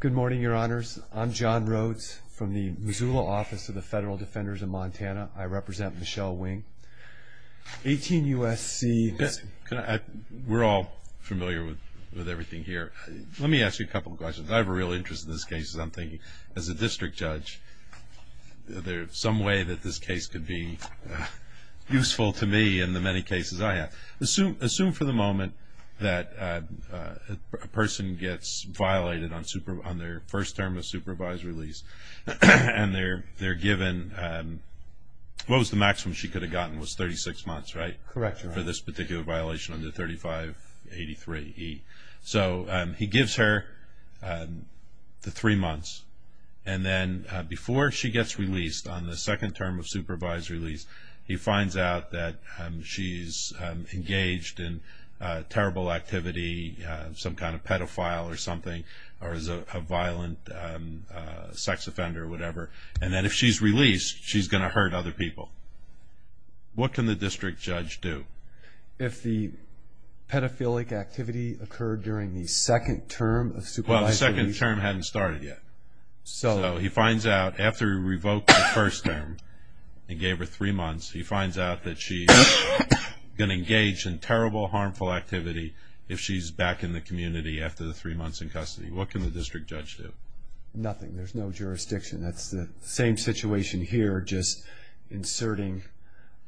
Good morning, your honors. I'm John Rhodes from the Missoula Office of the Federal Defenders of Montana. I represent Michelle Wing. 18 U.S.C. We're all familiar with everything here. Let me ask you a couple of questions. I have a real interest in this case because I'm thinking, as a district judge, is there some way that this case could be useful to me in the many cases I have? Assume for the moment that a person gets violated on their first term of supervisory lease and they're given, what was the maximum she could have gotten was 36 months, right? Correct. For this particular violation under 3583E. So he gives her the three months and then before she gets released on the second term of supervisory lease, he finds out that she's engaged in terrible activity, some kind of pedophile or something, or is a violent sex offender or whatever. And then if she's released, she's going to hurt other people. What can the district judge do? If the pedophilic activity occurred during the second term of supervisory lease. Well, the second term hadn't started yet. So he finds out after he revoked the first term and gave her three months, he finds out that she's going to engage in terrible, harmful activity if she's back in the community after the three months in custody. What can the district judge do? Nothing. There's no jurisdiction. That's the same situation here, just inserting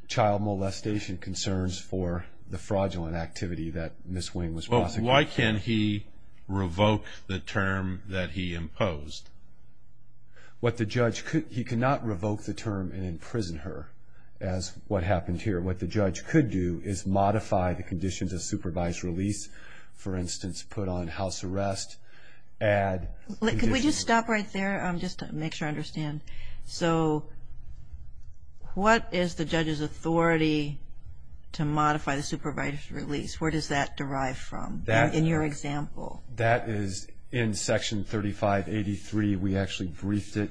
child molestation concerns for the fraudulent activity that Ms. Wing was prosecuting. Why can't he revoke the term that he imposed? He cannot revoke the term and imprison her as what happened here. What the judge could do is modify the conditions of supervisory lease. For instance, put on house arrest, add conditions. Could we just stop right there just to make sure I understand? So what is the judge's authority to modify the supervisory lease? Where does that derive from in your example? That is in Section 3583. We actually briefed it.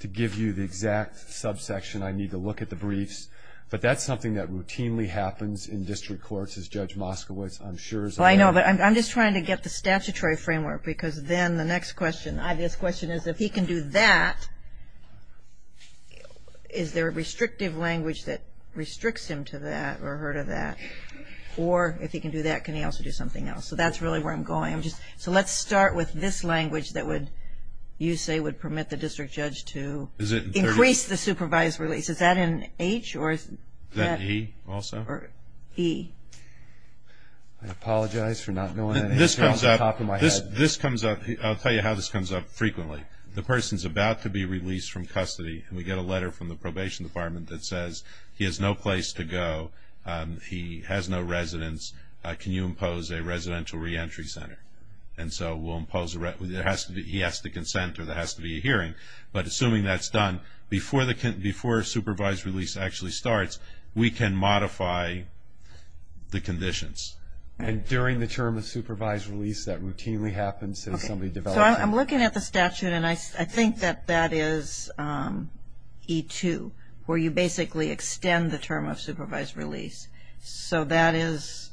To give you the exact subsection, I need to look at the briefs. But that's something that routinely happens in district courts, as Judge Moskowitz, I'm sure, is aware of. I know, but I'm just trying to get the statutory framework because then the next question, the obvious question, is if he can do that, is there a restrictive language that restricts him to that or her to that? Or if he can do that, can he also do something else? So that's really where I'm going. So let's start with this language that you say would permit the district judge to increase the supervisory lease. Is that in H? Is that E also? E. I apologize for not knowing. This comes up. I'll tell you how this comes up frequently. The person is about to be released from custody, and we get a letter from the probation department that says he has no place to go, he has no residence, can you impose a residential reentry center? And so he has to consent or there has to be a hearing. But assuming that's done, before a supervised release actually starts, we can modify the conditions. And during the term of supervised release, that routinely happens. So I'm looking at the statute, and I think that that is E2, where you basically extend the term of supervised release. So that is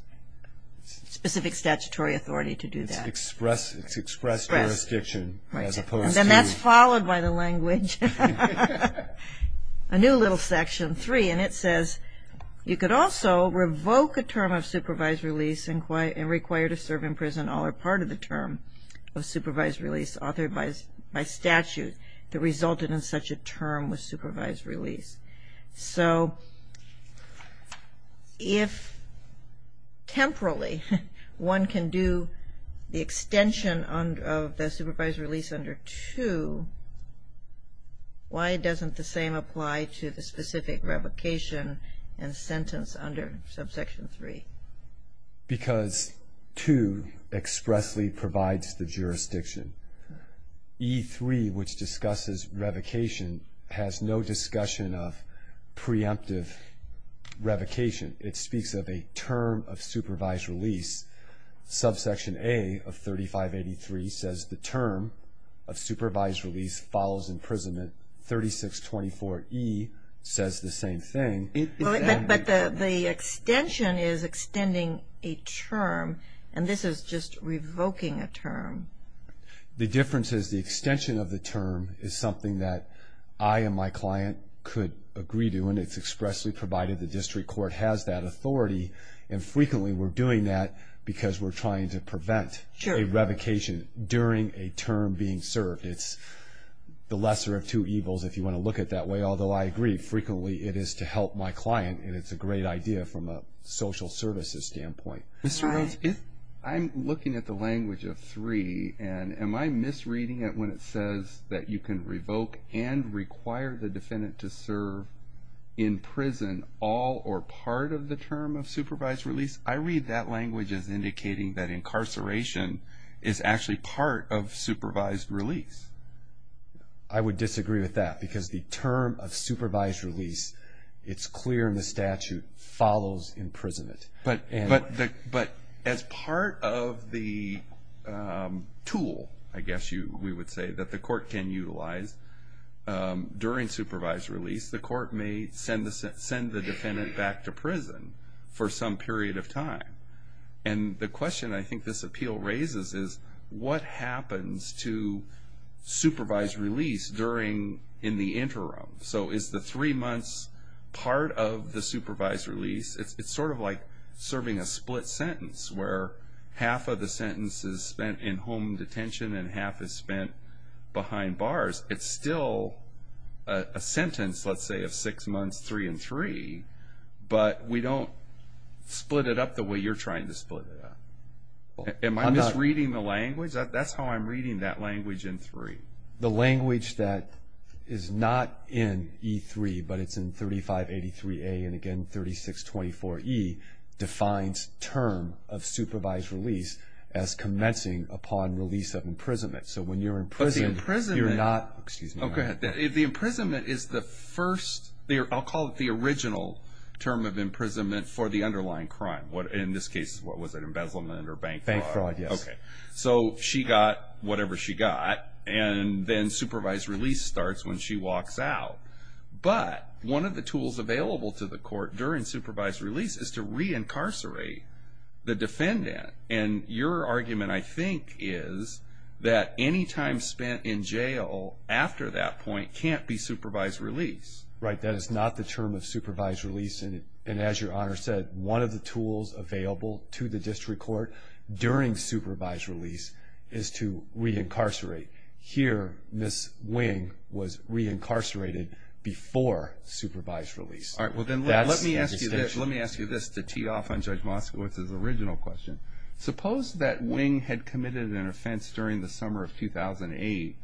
specific statutory authority to do that. It's expressed jurisdiction as opposed to. And that's followed by the language. A new little section, 3, and it says you could also revoke a term of supervised release and require to serve in prison all or part of the term of supervised release authored by statute that resulted in such a term with supervised release. So if temporally one can do the extension of the supervised release under 2, why doesn't the same apply to the specific revocation and sentence under subsection 3? Because 2 expressly provides the jurisdiction. E3, which discusses revocation, has no discussion of preemptive revocation. It speaks of a term of supervised release. Subsection A of 3583 says the term of supervised release follows imprisonment. 3624E says the same thing. But the extension is extending a term, and this is just revoking a term. The difference is the extension of the term is something that I and my client could agree to, and it's expressly provided the district court has that authority. And frequently we're doing that because we're trying to prevent a revocation during a term being served. It's the lesser of two evils, if you want to look at it that way, although I agree frequently it is to help my client, and it's a great idea from a social services standpoint. Mr. Rhodes, I'm looking at the language of 3, and am I misreading it when it says that you can revoke and require the defendant to serve in prison all or part of the term of supervised release? I read that language as indicating that incarceration is actually part of supervised release. I would disagree with that because the term of supervised release, it's clear in the statute, follows imprisonment. But as part of the tool, I guess we would say, that the court can utilize during supervised release, the court may send the defendant back to prison for some period of time. And the question I think this appeal raises is, what happens to supervised release during, in the interim? So is the three months part of the supervised release? It's sort of like serving a split sentence, where half of the sentence is spent in home detention and half is spent behind bars. It's still a sentence, let's say, of six months, three and three, but we don't split it up the way you're trying to split it up. Am I misreading the language? That's how I'm reading that language in 3. The language that is not in E3, but it's in 3583A and again 3624E, defines term of supervised release as commencing upon release of imprisonment. So when you're in prison, you're not, excuse me. Okay, the imprisonment is the first, I'll call it the original term of imprisonment for the underlying crime. In this case, what was it, embezzlement or bank fraud? Bank fraud, yes. Okay, so she got whatever she got, and then supervised release starts when she walks out. But one of the tools available to the court during supervised release is to re-incarcerate the defendant. And your argument, I think, is that any time spent in jail after that point can't be supervised release. Right, that is not the term of supervised release, and as Your Honor said, one of the tools available to the district court during supervised release is to re-incarcerate. Here, Ms. Wing was re-incarcerated before supervised release. All right, well then let me ask you this to tee off on Judge Moskowitz's original question. Suppose that Wing had committed an offense during the summer of 2008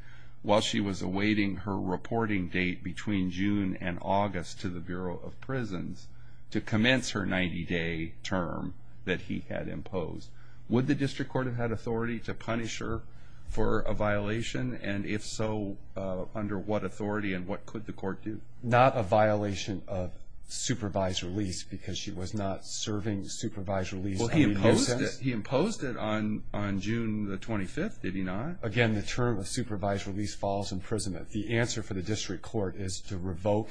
while she was awaiting her reporting date between June and August to the Bureau of Prisons to commence her 90-day term that he had imposed. Would the district court have had authority to punish her for a violation? And if so, under what authority and what could the court do? Not a violation of supervised release because she was not serving supervised release in any sense? Well, he imposed it on June the 25th, did he not? Again, the term of supervised release falls imprisonment. The answer for the district court is to revoke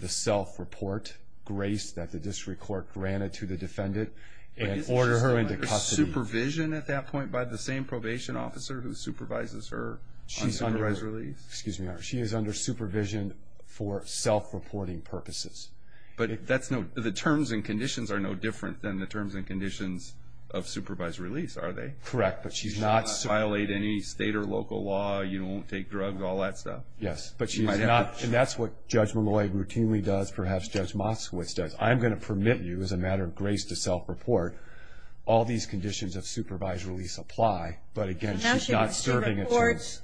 the self-report grace that the district court granted to the defendant and order her into custody. But isn't she still under supervision at that point by the same probation officer who supervises her on supervised release? Excuse me, Your Honor. She is under supervision for self-reporting purposes. But the terms and conditions are no different than the terms and conditions of supervised release, are they? Correct, but she's not. She does not violate any state or local law. You don't take drugs, all that stuff. Yes, but she's not. And that's what Judge Molloy routinely does, perhaps Judge Moskowitz does. I'm going to permit you as a matter of grace to self-report. All these conditions of supervised release apply. But again, she's not serving it.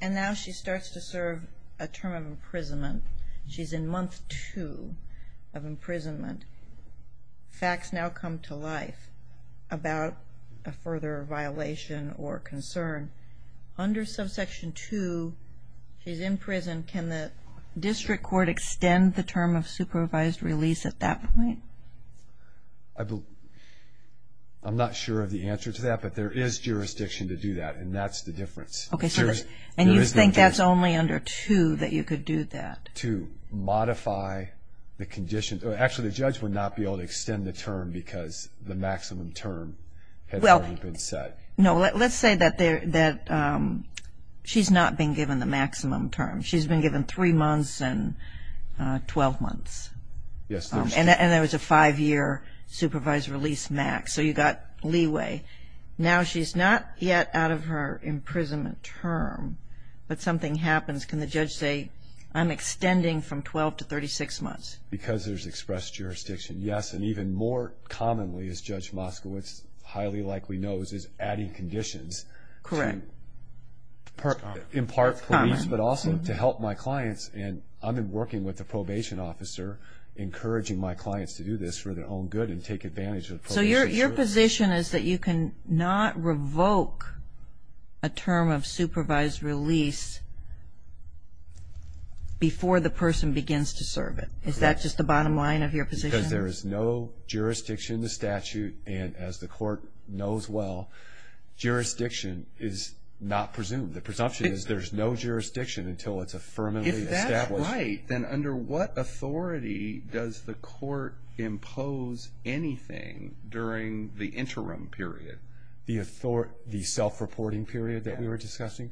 And now she starts to serve a term of imprisonment. She's in month two of imprisonment. Facts now come to life about a further violation or concern. Under subsection 2, she's in prison. Can the district court extend the term of supervised release at that point? I'm not sure of the answer to that, but there is jurisdiction to do that, and that's the difference. And you think that's only under 2 that you could do that? To modify the condition. Actually, the judge would not be able to extend the term because the maximum term has already been set. No, let's say that she's not being given the maximum term. She's been given three months and 12 months. And there was a five-year supervised release max, so you got leeway. Now she's not yet out of her imprisonment term, but something happens. Can the judge say, I'm extending from 12 to 36 months? Because there's expressed jurisdiction, yes. And even more commonly, as Judge Moskowitz highly likely knows, is adding conditions. Correct. In part police, but also to help my clients. And I've been working with a probation officer, encouraging my clients to do this for their own good and take advantage of probation. So your position is that you cannot revoke a term of supervised release before the person begins to serve it. Is that just the bottom line of your position? Because there is no jurisdiction to statute, and as the court knows well, jurisdiction is not presumed. The presumption is there's no jurisdiction until it's affirmatively established. Right. Then under what authority does the court impose anything during the interim period? The self-reporting period that we were discussing?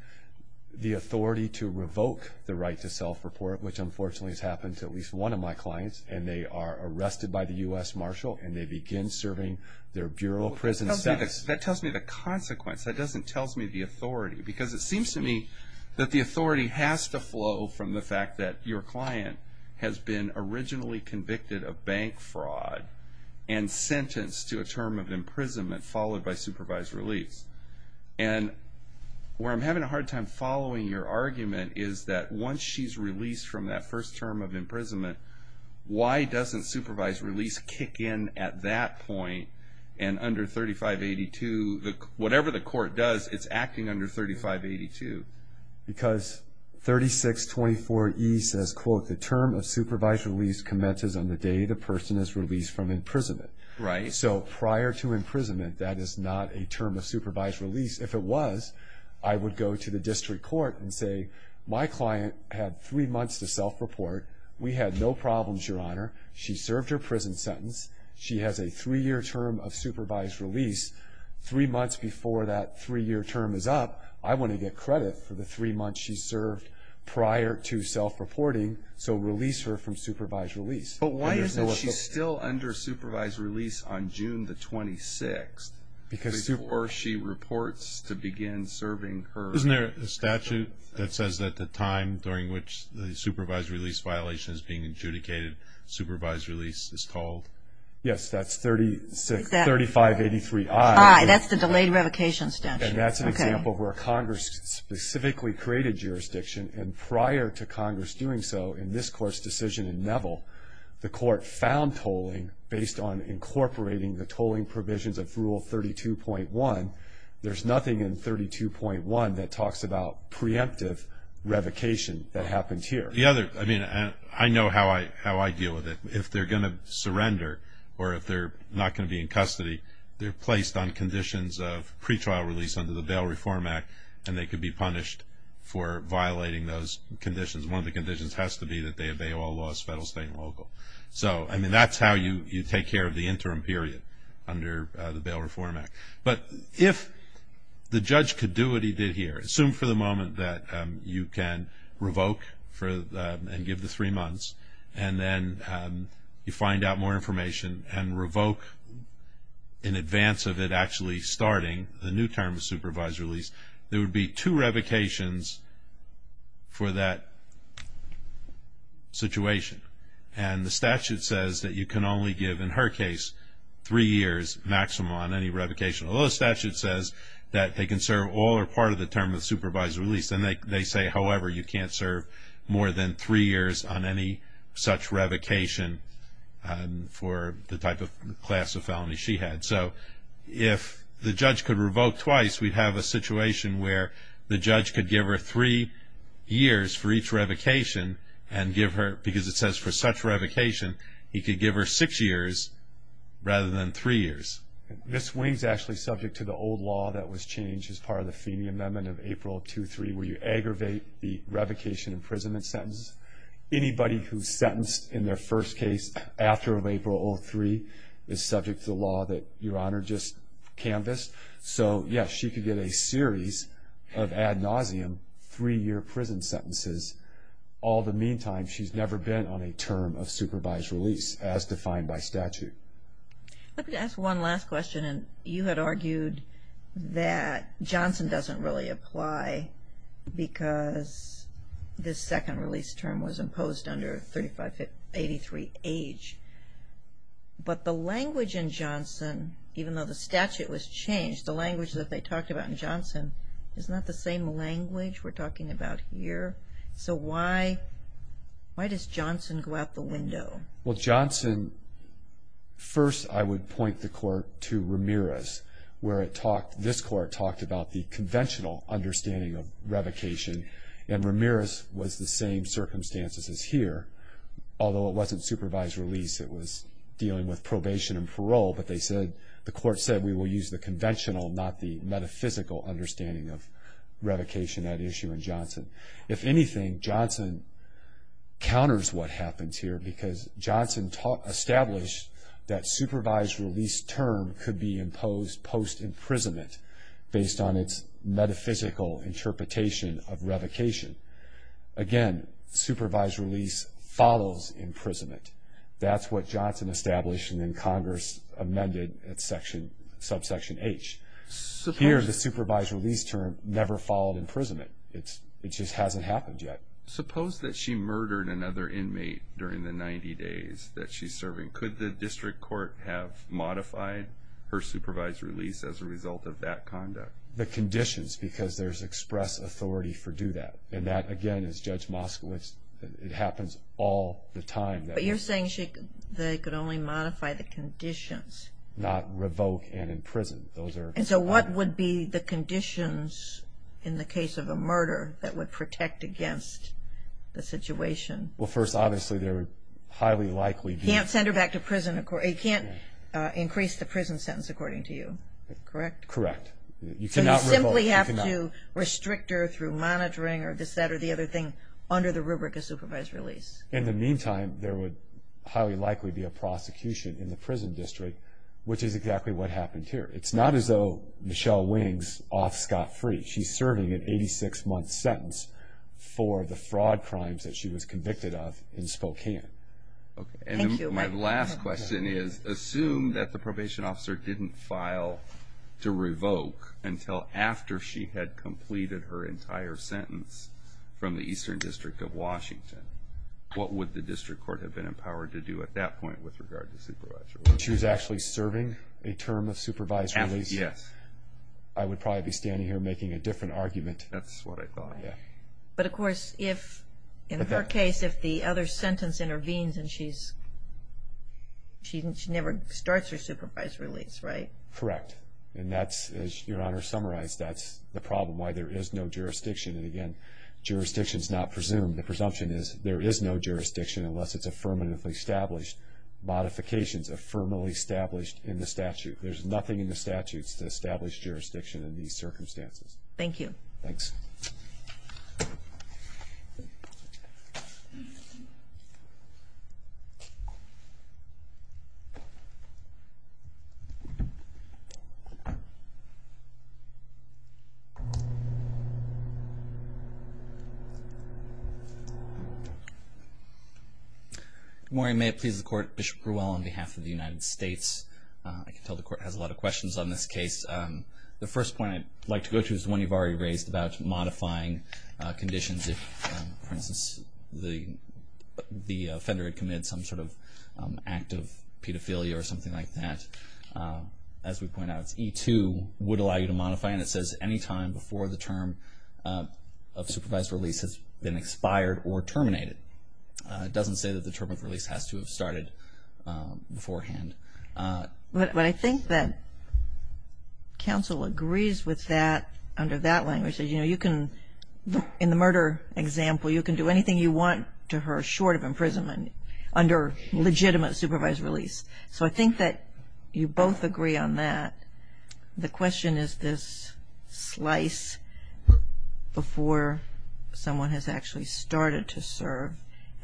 The authority to revoke the right to self-report, which unfortunately has happened to at least one of my clients, and they are arrested by the U.S. Marshal and they begin serving their bureau prison sentence. That tells me the consequence. That doesn't tell me the authority. Because it seems to me that the authority has to flow from the fact that your client has been originally convicted of bank fraud and sentenced to a term of imprisonment followed by supervised release. And where I'm having a hard time following your argument is that once she's released from that first term of imprisonment, why doesn't supervised release kick in at that point and under 3582, whatever the court does, it's acting under 3582? Because 3624E says, quote, the term of supervised release commences on the day the person is released from imprisonment. Right. So prior to imprisonment, that is not a term of supervised release. If it was, I would go to the district court and say, my client had three months to self-report. We had no problems, Your Honor. She served her prison sentence. She has a three-year term of supervised release. Three months before that three-year term is up, I want to get credit for the three months she served prior to self-reporting, so release her from supervised release. But why is it she's still under supervised release on June the 26th, before she reports to begin serving her? Isn't there a statute that says that the time during which the supervised release violation is being adjudicated, supervised release is called? Yes, that's 3583I. That's the delayed revocation statute. And that's an example where Congress specifically created jurisdiction, and prior to Congress doing so in this Court's decision in Neville, the Court found tolling based on incorporating the tolling provisions of Rule 32.1. There's nothing in 32.1 that talks about preemptive revocation that happened here. The other, I mean, I know how I deal with it. If they're going to surrender or if they're not going to be in custody, they're placed on conditions of pretrial release under the Bail Reform Act, and they could be punished for violating those conditions. One of the conditions has to be that they obey all laws, federal, state, and local. So, I mean, that's how you take care of the interim period under the Bail Reform Act. But if the judge could do what he did here, assume for the moment that you can revoke and give the three months, and then you find out more information and revoke in advance of it actually starting the new term of supervised release, there would be two revocations for that situation. And the statute says that you can only give, in her case, three years maximum on any revocation, although the statute says that they can serve all or part of the term of supervised release. And they say, however, you can't serve more than three years on any such revocation for the type of class of felony she had. So if the judge could revoke twice, we'd have a situation where the judge could give her three years for each revocation and give her, because it says for such revocation, he could give her six years rather than three years. Ms. Wing is actually subject to the old law that was changed as part of the Feeney Amendment of April of 2003 where you aggravate the revocation imprisonment sentence. Anybody who's sentenced in their first case after April of 2003 is subject to the law that Your Honor just canvassed. So, yes, she could get a series of ad nauseum three-year prison sentences. All the meantime, she's never been on a term of supervised release as defined by statute. Let me ask one last question. You had argued that Johnson doesn't really apply because this second release term was imposed under 3583H. But the language in Johnson, even though the statute was changed, the language that they talked about in Johnson is not the same language we're talking about here. So why does Johnson go out the window? Well, Johnson, first I would point the court to Ramirez where it talked, this court talked about the conventional understanding of revocation. And Ramirez was the same circumstances as here, although it wasn't supervised release. It was dealing with probation and parole. But they said, the court said we will use the conventional, not the metaphysical understanding of revocation at issue in Johnson. If anything, Johnson counters what happens here because Johnson established that supervised release term could be imposed post-imprisonment based on its metaphysical interpretation of revocation. Again, supervised release follows imprisonment. That's what Johnson established and then Congress amended at subsection H. Here, the supervised release term never followed imprisonment. It just hasn't happened yet. Suppose that she murdered another inmate during the 90 days that she's serving. Could the district court have modified her supervised release as a result of that conduct? The conditions, because there's express authority for do that. And that, again, is Judge Moskowitz. It happens all the time. But you're saying they could only modify the conditions. Not revoke and imprison. So what would be the conditions in the case of a murder that would protect against the situation? Well, first, obviously, there would highly likely be. You can't send her back to prison. You can't increase the prison sentence, according to you. Correct? Correct. So you simply have to restrict her through monitoring or this, that, or the other thing under the rubric of supervised release. In the meantime, there would highly likely be a prosecution in the prison district, which is exactly what happened here. It's not as though Michelle Wings off scot-free. She's serving an 86-month sentence for the fraud crimes that she was convicted of in Spokane. Thank you. My last question is, assume that the probation officer didn't file to revoke until after she had completed her entire sentence from the Eastern District of Washington. What would the district court have been empowered to do at that point with regard to supervised release? If she was actually serving a term of supervised release, I would probably be standing here making a different argument. That's what I thought. But, of course, in her case, if the other sentence intervenes and she never starts her supervised release, right? Correct. And that's, as Your Honor summarized, that's the problem, why there is no jurisdiction. And, again, jurisdiction is not presumed. The presumption is there is no jurisdiction unless it's affirmatively established. Modifications affirmatively established in the statute. There's nothing in the statutes to establish jurisdiction in these circumstances. Thank you. Thanks. Good morning. May it please the Court. Bishop Grewell on behalf of the United States. I can tell the Court has a lot of questions on this case. The first point I'd like to go to is the one you've already raised about modifying conditions. For instance, the offender had committed some sort of act of pedophilia or something like that. As we point out, it's E2 would allow you to modify, and it says any time before the term of supervised release has been expired or terminated. It doesn't say that the term of release has to have started beforehand. But I think that counsel agrees with that under that language. You know, you can, in the murder example, you can do anything you want to her short of imprisonment under legitimate supervised release. So I think that you both agree on that. The question is this slice before someone has actually started to serve,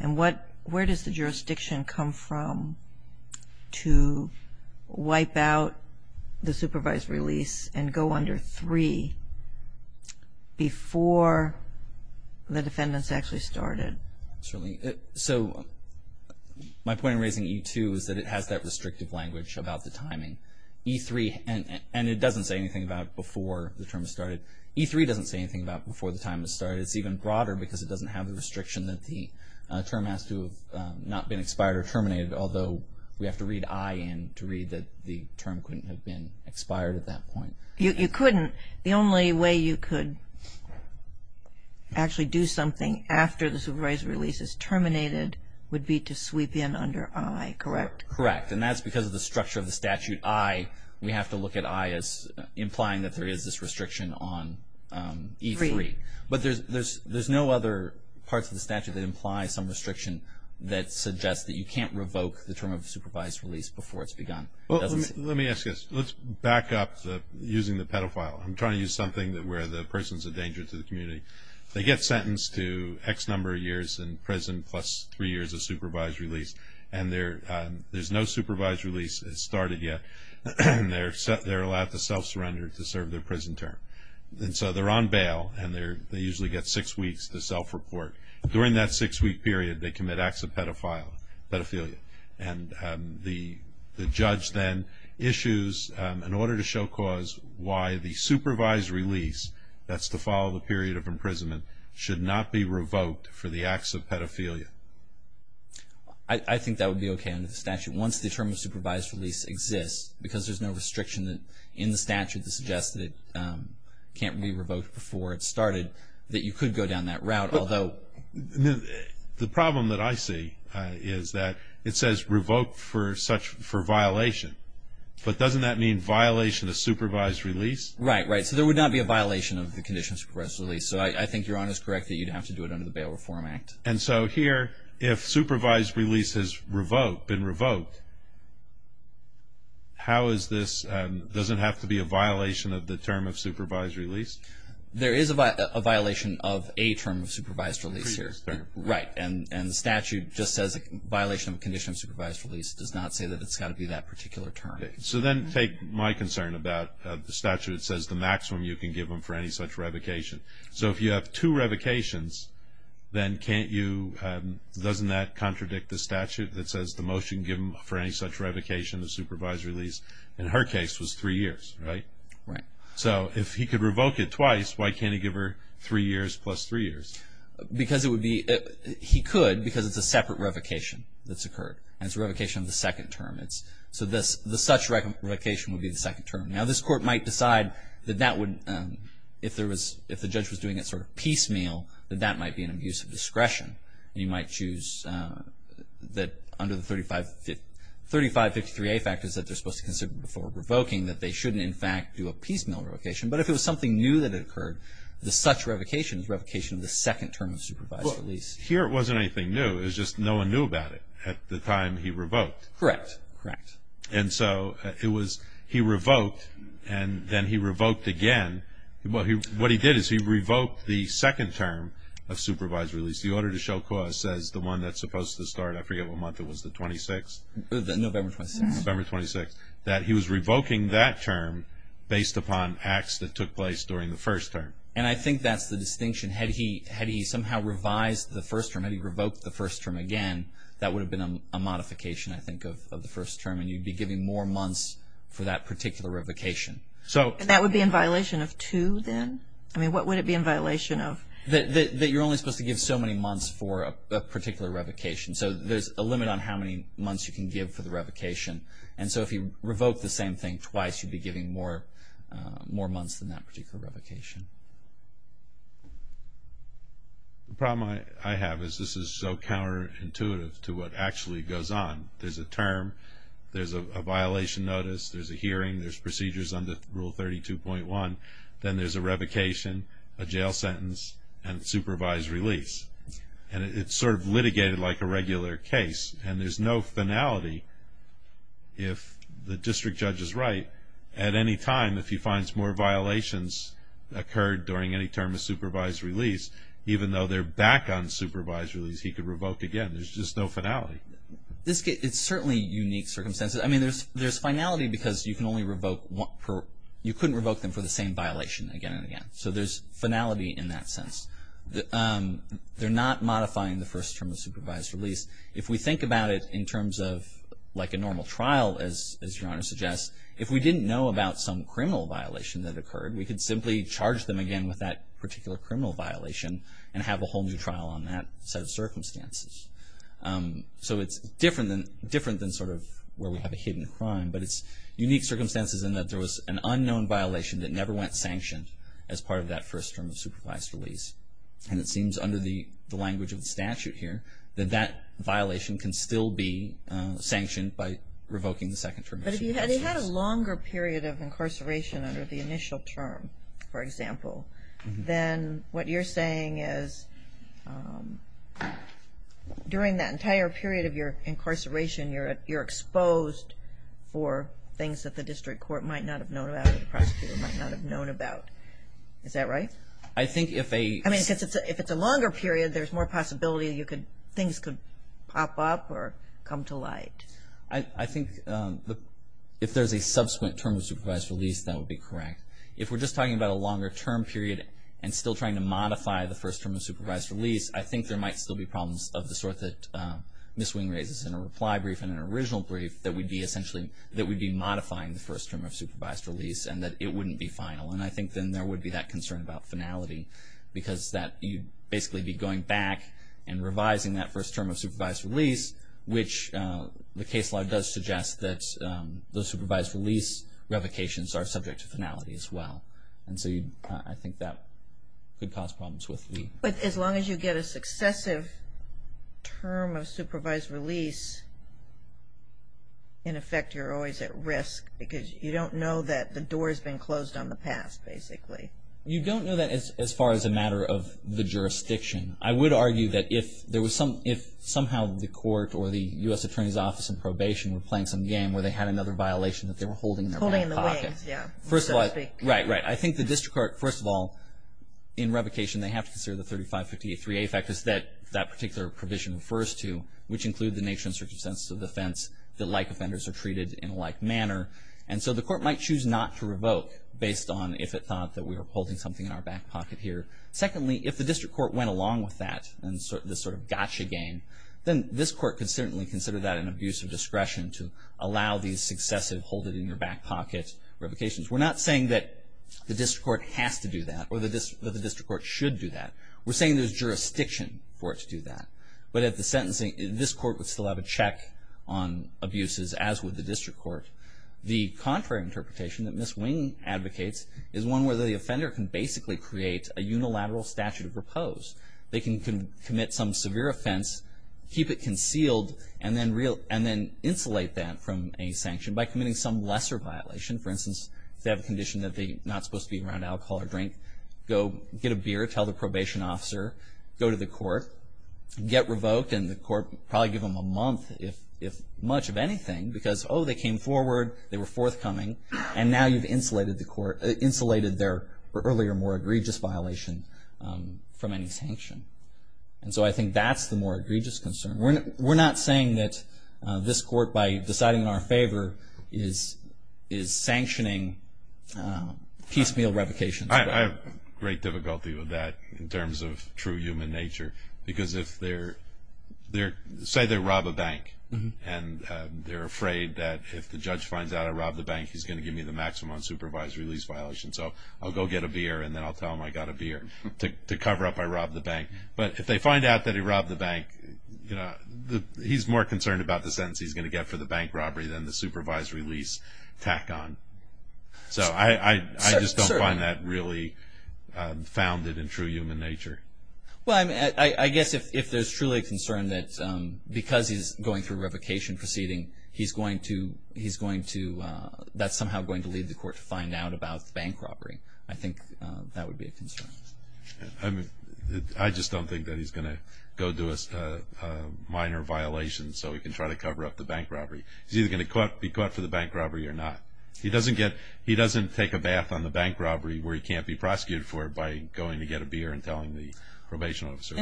and where does the jurisdiction come from to wipe out the supervised release and go under 3 before the defendant's actually started? Certainly. So my point in raising E2 is that it has that restrictive language about the timing. E3, and it doesn't say anything about before the term has started. E3 doesn't say anything about before the time has started. It's even broader because it doesn't have the restriction that the term has to have not been expired or terminated, although we have to read I in to read that the term couldn't have been expired at that point. You couldn't. The only way you could actually do something after the supervised release is terminated would be to sweep in under I, correct? Correct. And that's because of the structure of the statute. I, we have to look at I as implying that there is this restriction on E3. But there's no other parts of the statute that imply some restriction that suggests that you can't revoke the term of supervised release before it's begun. Well, let me ask you this. Let's back up using the pedophile. I'm trying to use something where the person's a danger to the community. They get sentenced to X number of years in prison plus 3 years of supervised release, and there's no supervised release started yet. They're allowed to self-surrender to serve their prison term. And so they're on bail, and they usually get six weeks to self-report. During that six-week period, they commit acts of pedophilia. And the judge then issues an order to show cause why the supervised release, that's to follow the period of imprisonment, should not be revoked for the acts of pedophilia. I think that would be okay under the statute. Once the term of supervised release exists, because there's no restriction in the statute that suggests that it can't be revoked before it started, that you could go down that route, although. The problem that I see is that it says revoke for violation. But doesn't that mean violation of supervised release? Right, right. So there would not be a violation of the condition of supervised release. So I think Your Honor is correct that you'd have to do it under the Bail Reform Act. And so here, if supervised release has been revoked, how is this doesn't have to be a violation of the term of supervised release? There is a violation of a term of supervised release here. Right. And the statute just says violation of the condition of supervised release. It does not say that it's got to be that particular term. So then take my concern about the statute. It says the maximum you can give them for any such revocation. So if you have two revocations, then can't you, doesn't that contradict the statute that says the most you can give them for any such revocation of supervised release, in her case, was three years, right? Right. So if he could revoke it twice, why can't he give her three years plus three years? Because it would be, he could because it's a separate revocation that's occurred. And it's a revocation of the second term. So this, the such revocation would be the second term. Now this Court might decide that that would, if there was, if the judge was doing it sort of piecemeal, that that might be an abuse of discretion. And you might choose that under the 3553A factors that they're supposed to consider before revoking that they shouldn't, in fact, do a piecemeal revocation. But if it was something new that had occurred, the such revocation is revocation of the second term of supervised release. Well, here it wasn't anything new. It was just no one knew about it at the time he revoked. Correct. Correct. And so it was, he revoked and then he revoked again. What he did is he revoked the second term of supervised release. The order to show cause says the one that's supposed to start every other month, it was the 26th? The November 26th. Yes, the November 26th, that he was revoking that term based upon acts that took place during the first term. And I think that's the distinction. Had he somehow revised the first term, had he revoked the first term again, that would have been a modification, I think, of the first term, and you'd be giving more months for that particular revocation. That would be in violation of two then? I mean, what would it be in violation of? That you're only supposed to give so many months for a particular revocation. So there's a limit on how many months you can give for the revocation. And so if he revoked the same thing twice, you'd be giving more months than that particular revocation. The problem I have is this is so counterintuitive to what actually goes on. There's a term. There's a violation notice. There's a hearing. There's procedures under Rule 32.1. Then there's a revocation, a jail sentence, and supervised release. And it's sort of litigated like a regular case, and there's no finality if the district judge is right. At any time, if he finds more violations occurred during any term of supervised release, even though they're back on supervised release, he could revoke again. There's just no finality. It's certainly unique circumstances. I mean, there's finality because you can only revoke one per – you couldn't revoke them for the same violation again and again. So there's finality in that sense. They're not modifying the first term of supervised release. If we think about it in terms of like a normal trial, as Your Honor suggests, if we didn't know about some criminal violation that occurred, we could simply charge them again with that particular criminal violation and have a whole new trial on that set of circumstances. So it's different than sort of where we have a hidden crime, but it's unique circumstances in that there was an unknown violation that never went sanctioned as part of that first term of supervised release. And it seems under the language of the statute here that that violation can still be sanctioned by revoking the second term of supervised release. But if you had a longer period of incarceration under the initial term, for example, then what you're saying is during that entire period of your incarceration, you're exposed for things that the district court might not have known about or the prosecutor might not have known about. Is that right? I think if a – I mean, because if it's a longer period, there's more possibility things could pop up or come to light. I think if there's a subsequent term of supervised release, that would be correct. If we're just talking about a longer term period and still trying to modify the first term of supervised release, I think there might still be problems of the sort that Ms. Wing raises in her reply brief and in her original brief that we'd be essentially – that we'd be modifying the first term of supervised release and that it wouldn't be final. And I think then there would be that concern about finality because that you'd basically be going back and revising that first term of supervised release, which the case law does suggest that those supervised release revocations are subject to finality as well. And so I think that could cause problems with the – But as long as you get a successive term of supervised release, in effect you're always at risk because you don't know that the door has been closed on the past, basically. You don't know that as far as a matter of the jurisdiction. I would argue that if there was some – if somehow the court or the U.S. Attorney's Office in probation were playing some game where they had another violation that they were holding in their back pocket. Holding in the wings, yeah. First of all – Right, right. I think the district court, first of all, in revocation, they have to consider the 35583A factors that that particular provision refers to, which include the nature and circumstances of the offense, that like offenders are treated in a like manner. And so the court might choose not to revoke based on if it thought that we were holding something in our back pocket here. Secondly, if the district court went along with that and this sort of gotcha game, then this court could certainly consider that an abuse of discretion to allow these successive hold it in your back pocket revocations. We're not saying that the district court has to do that or that the district court should do that. We're saying there's jurisdiction for it to do that. But at the sentencing, this court would still have a check on abuses, as would the district court. The contrary interpretation that Ms. Wing advocates is one where the offender can basically create a unilateral statute of repose. They can commit some severe offense, keep it concealed, and then insulate that from a sanction by committing some lesser violation. For instance, if they have a condition that they're not supposed to be around alcohol or drink, go get a beer, tell the probation officer, go to the court, get revoked, and the court would probably give them a month if much of anything because, oh, they came forward, they were forthcoming, and now you've insulated their earlier more egregious violation from any sanction. And so I think that's the more egregious concern. We're not saying that this court, by deciding in our favor, is sanctioning piecemeal revocations. I have great difficulty with that in terms of true human nature because say they rob a bank, and they're afraid that if the judge finds out I robbed the bank, he's going to give me the maximum unsupervised release violation. So I'll go get a beer, and then I'll tell them I got a beer. To cover up I robbed the bank. But if they find out that he robbed the bank, he's more concerned about the sentence he's going to get for the bank robbery than the supervised release tack-on. So I just don't find that really founded in true human nature. Well, I guess if there's truly a concern that because he's going through a revocation proceeding, he's going to – that's somehow going to lead the court to find out about the bank robbery. I think that would be a concern. I just don't think that he's going to go to a minor violation so he can try to cover up the bank robbery. He's either going to be caught for the bank robbery or not. He doesn't take a bath on the bank robbery where he can't be prosecuted for it by going to get a beer and telling the probation officer.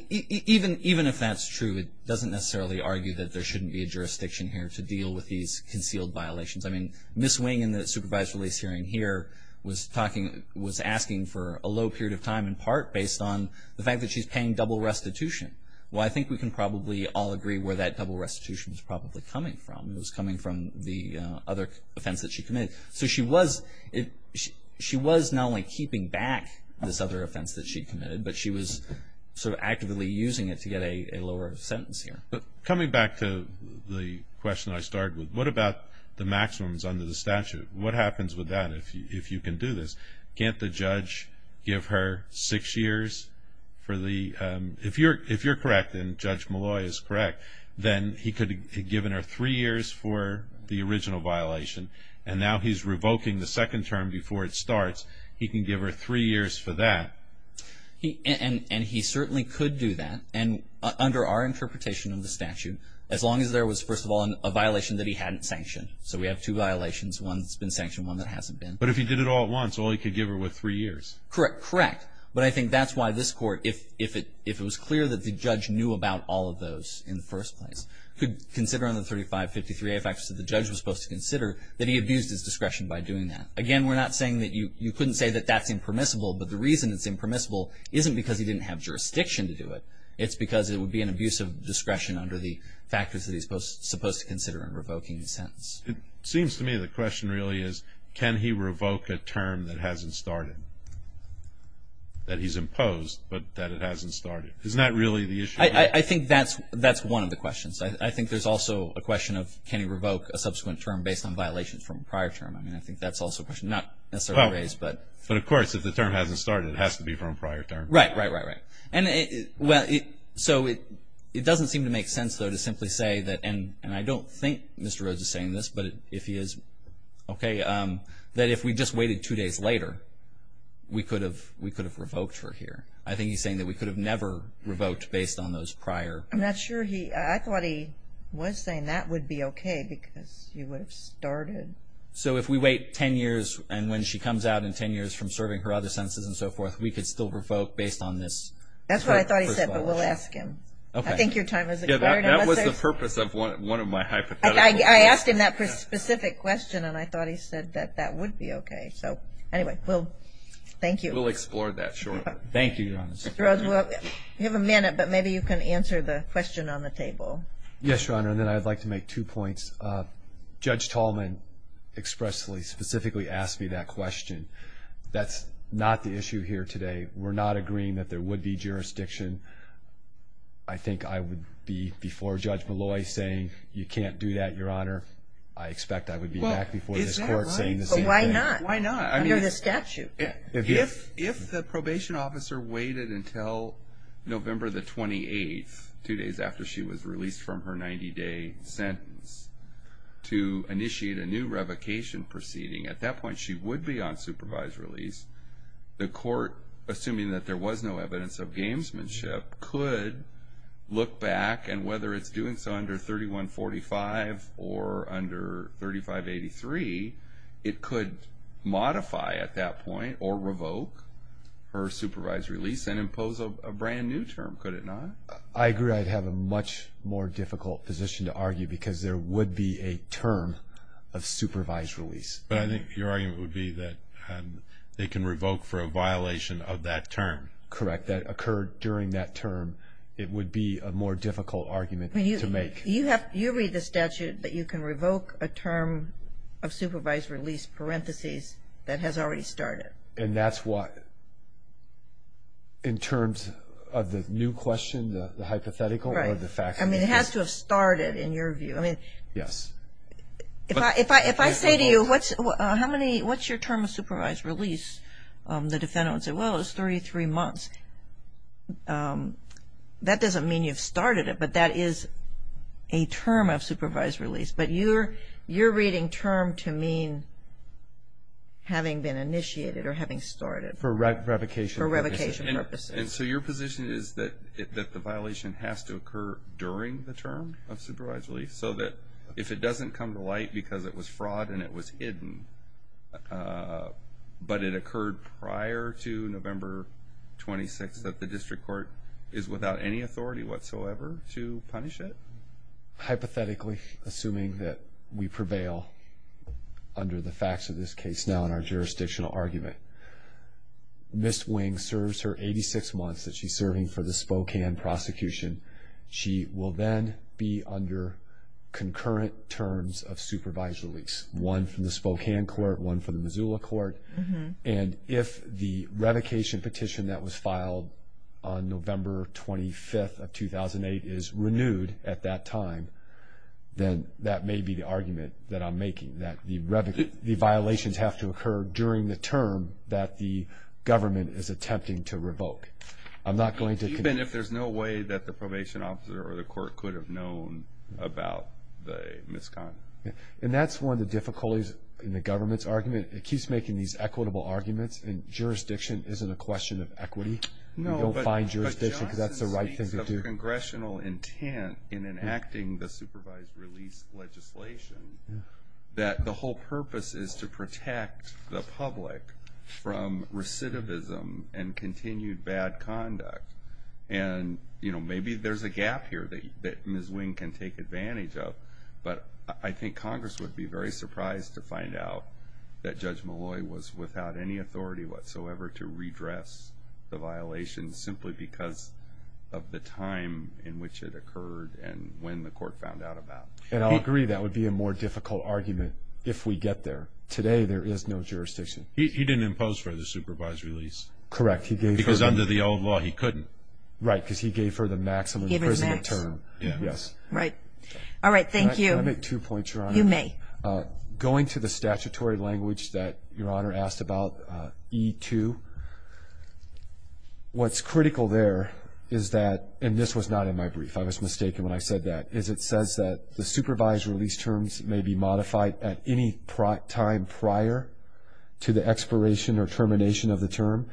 Even if that's true, it doesn't necessarily argue that there shouldn't be a jurisdiction here to deal with these concealed violations. I mean, Ms. Wing in the supervised release hearing here was asking for a low period of time in part based on the fact that she's paying double restitution. Well, I think we can probably all agree where that double restitution is probably coming from. It was coming from the other offense that she committed. So she was not only keeping back this other offense that she committed, but she was sort of actively using it to get a lower sentence here. Coming back to the question I started with, what about the maximums under the statute? What happens with that if you can do this? Can't the judge give her six years for the – if you're correct and Judge Malloy is correct, then he could have given her three years for the original violation. And now he's revoking the second term before it starts. He can give her three years for that. And he certainly could do that. And under our interpretation of the statute, as long as there was, first of all, a violation that he hadn't sanctioned. So we have two violations, one that's been sanctioned, one that hasn't been. But if he did it all at once, all he could give her was three years. Correct, correct. But I think that's why this Court, if it was clear that the judge knew about all of those in the first place, could consider under 3553A, a fact that the judge was supposed to consider, that he abused his discretion by doing that. Again, we're not saying that you couldn't say that that's impermissible, but the reason it's impermissible isn't because he didn't have jurisdiction to do it. It's because it would be an abuse of discretion under the factors that he's supposed to consider in revoking the sentence. It seems to me the question really is, can he revoke a term that hasn't started? That he's imposed, but that it hasn't started. Isn't that really the issue? I think that's one of the questions. I think there's also a question of, can he revoke a subsequent term based on violations from a prior term? I mean, I think that's also a question. But of course, if the term hasn't started, it has to be from a prior term. Right, right, right, right. So it doesn't seem to make sense, though, to simply say that, and I don't think Mr. Rhodes is saying this, but if he is, okay, that if we just waited two days later, we could have revoked for here. I think he's saying that we could have never revoked based on those prior. I'm not sure. I thought he was saying that would be okay because he would have started. So if we wait ten years, and when she comes out in ten years from serving her other sentences and so forth, we could still revoke based on this? That's what I thought he said, but we'll ask him. Okay. I think your time has expired. That was the purpose of one of my hypotheticals. I asked him that specific question, and I thought he said that that would be okay. So anyway, well, thank you. We'll explore that shortly. Thank you, Your Honor. Mr. Rhodes, we'll give a minute, but maybe you can answer the question on the table. Yes, Your Honor, and then I'd like to make two points. Judge Tallman expressly, specifically asked me that question. That's not the issue here today. We're not agreeing that there would be jurisdiction. I think I would be before Judge Malloy saying, you can't do that, Your Honor. I expect I would be back before this Court saying the same thing. Well, why not? Why not? Under the statute. If the probation officer waited until November the 28th, two days after she was released from her 90-day sentence, to initiate a new revocation proceeding, at that point she would be on supervised release. The Court, assuming that there was no evidence of gamesmanship, could look back, and whether it's doing so under 3145 or under 3583, it could modify at that point or revoke her supervised release and impose a brand-new term, could it not? I agree I'd have a much more difficult position to argue because there would be a term of supervised release. But I think your argument would be that they can revoke for a violation of that term. Correct. That occurred during that term. It would be a more difficult argument to make. You read the statute that you can revoke a term of supervised release, parentheses, that has already started. And that's what, in terms of the new question, the hypothetical or the fact? It has to have started, in your view. Yes. If I say to you, what's your term of supervised release? The defendant would say, well, it was 33 months. That doesn't mean you've started it, but that is a term of supervised release. But you're reading term to mean having been initiated or having started. For revocation purposes. For revocation purposes. And so your position is that the violation has to occur during the term of supervised release so that if it doesn't come to light because it was fraud and it was hidden, but it occurred prior to November 26th, that the district court is without any authority whatsoever to punish it? Hypothetically, assuming that we prevail under the facts of this case now in our jurisdictional argument, Ms. Wing serves her 86 months that she's serving for the Spokane prosecution. She will then be under concurrent terms of supervised release, one from the Spokane court, one from the Missoula court. And if the revocation petition that was filed on November 25th of 2008 is renewed at that time, then that may be the argument that I'm making, that the violations have to occur during the term that the government is attempting to revoke. Even if there's no way that the probation officer or the court could have known about the misconduct? And that's one of the difficulties in the government's argument. It keeps making these equitable arguments, and jurisdiction isn't a question of equity. You don't find jurisdiction because that's the right thing to do. No, but Johnson speaks of congressional intent in enacting the supervised release legislation that the whole purpose is to protect the public from recidivism and continued bad conduct. And maybe there's a gap here that Ms. Wing can take advantage of, but I think Congress would be very surprised to find out that Judge Malloy was without any authority whatsoever to redress the violations simply because of the time in which it occurred and when the court found out about it. And I'll agree that would be a more difficult argument if we get there. Today there is no jurisdiction. He didn't impose for the supervised release. Correct. Because under the old law he couldn't. Right, because he gave her the maximum prison term. Yes. Right. All right, thank you. Can I make two points, Your Honor? You may. Going to the statutory language that Your Honor asked about, E2, what's critical there is that, and this was not in my brief, I was mistaken when I said that, is it says that the supervised release terms may be modified at any time prior to the expiration or termination of the term,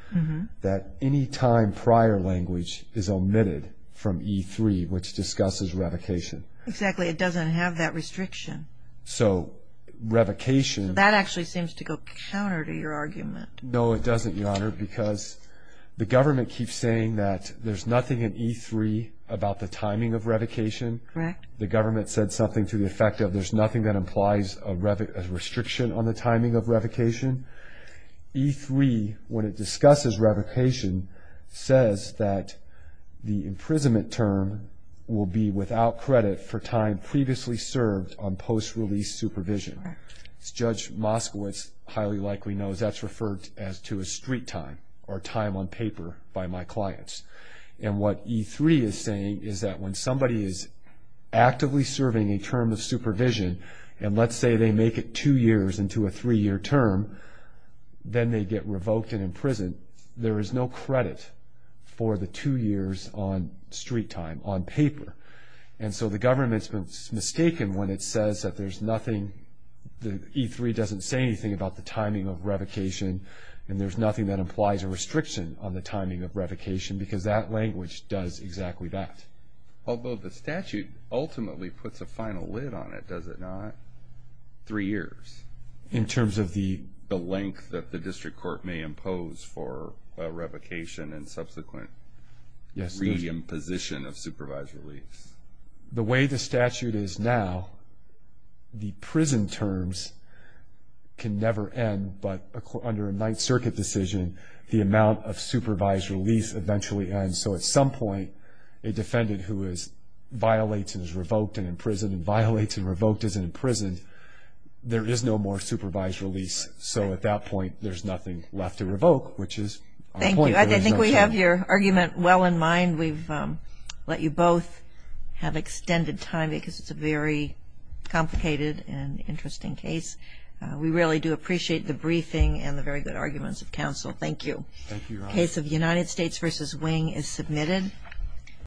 that any time prior language is omitted from E3, which discusses revocation. Exactly. It doesn't have that restriction. So revocation. That actually seems to go counter to your argument. No, it doesn't, Your Honor, because the government keeps saying that there's nothing in E3 about the timing of revocation. Correct. The government said something to the effect of there's nothing that implies a restriction on the timing of revocation. E3, when it discusses revocation, says that the imprisonment term will be without credit for time previously served on post-release supervision. As Judge Moskowitz highly likely knows, that's referred to as street time or time on paper by my clients. And what E3 is saying is that when somebody is actively serving a term of supervision, and let's say they make it two years into a three-year term, then they get revoked and imprisoned. There is no credit for the two years on street time, on paper. And so the government's mistaken when it says that there's nothing, that E3 doesn't say anything about the timing of revocation, and there's nothing that implies a restriction on the timing of revocation, because that language does exactly that. Although the statute ultimately puts a final lid on it, does it not? Three years. In terms of the length that the district court may impose for revocation and subsequent re-imposition of supervised release. The way the statute is now, the prison terms can never end, but under a Ninth Circuit decision, the amount of supervised release eventually ends. So at some point, a defendant who violates and is revoked and imprisoned, and violates and revoked and is imprisoned, there is no more supervised release. So at that point, there's nothing left to revoke, which is our point. Thank you. I think we have your argument well in mind. We've let you both have extended time because it's a very complicated and interesting case. We really do appreciate the briefing and the very good arguments of counsel. Thank you. Thank you, Your Honor. The United States v. Wing is submitted.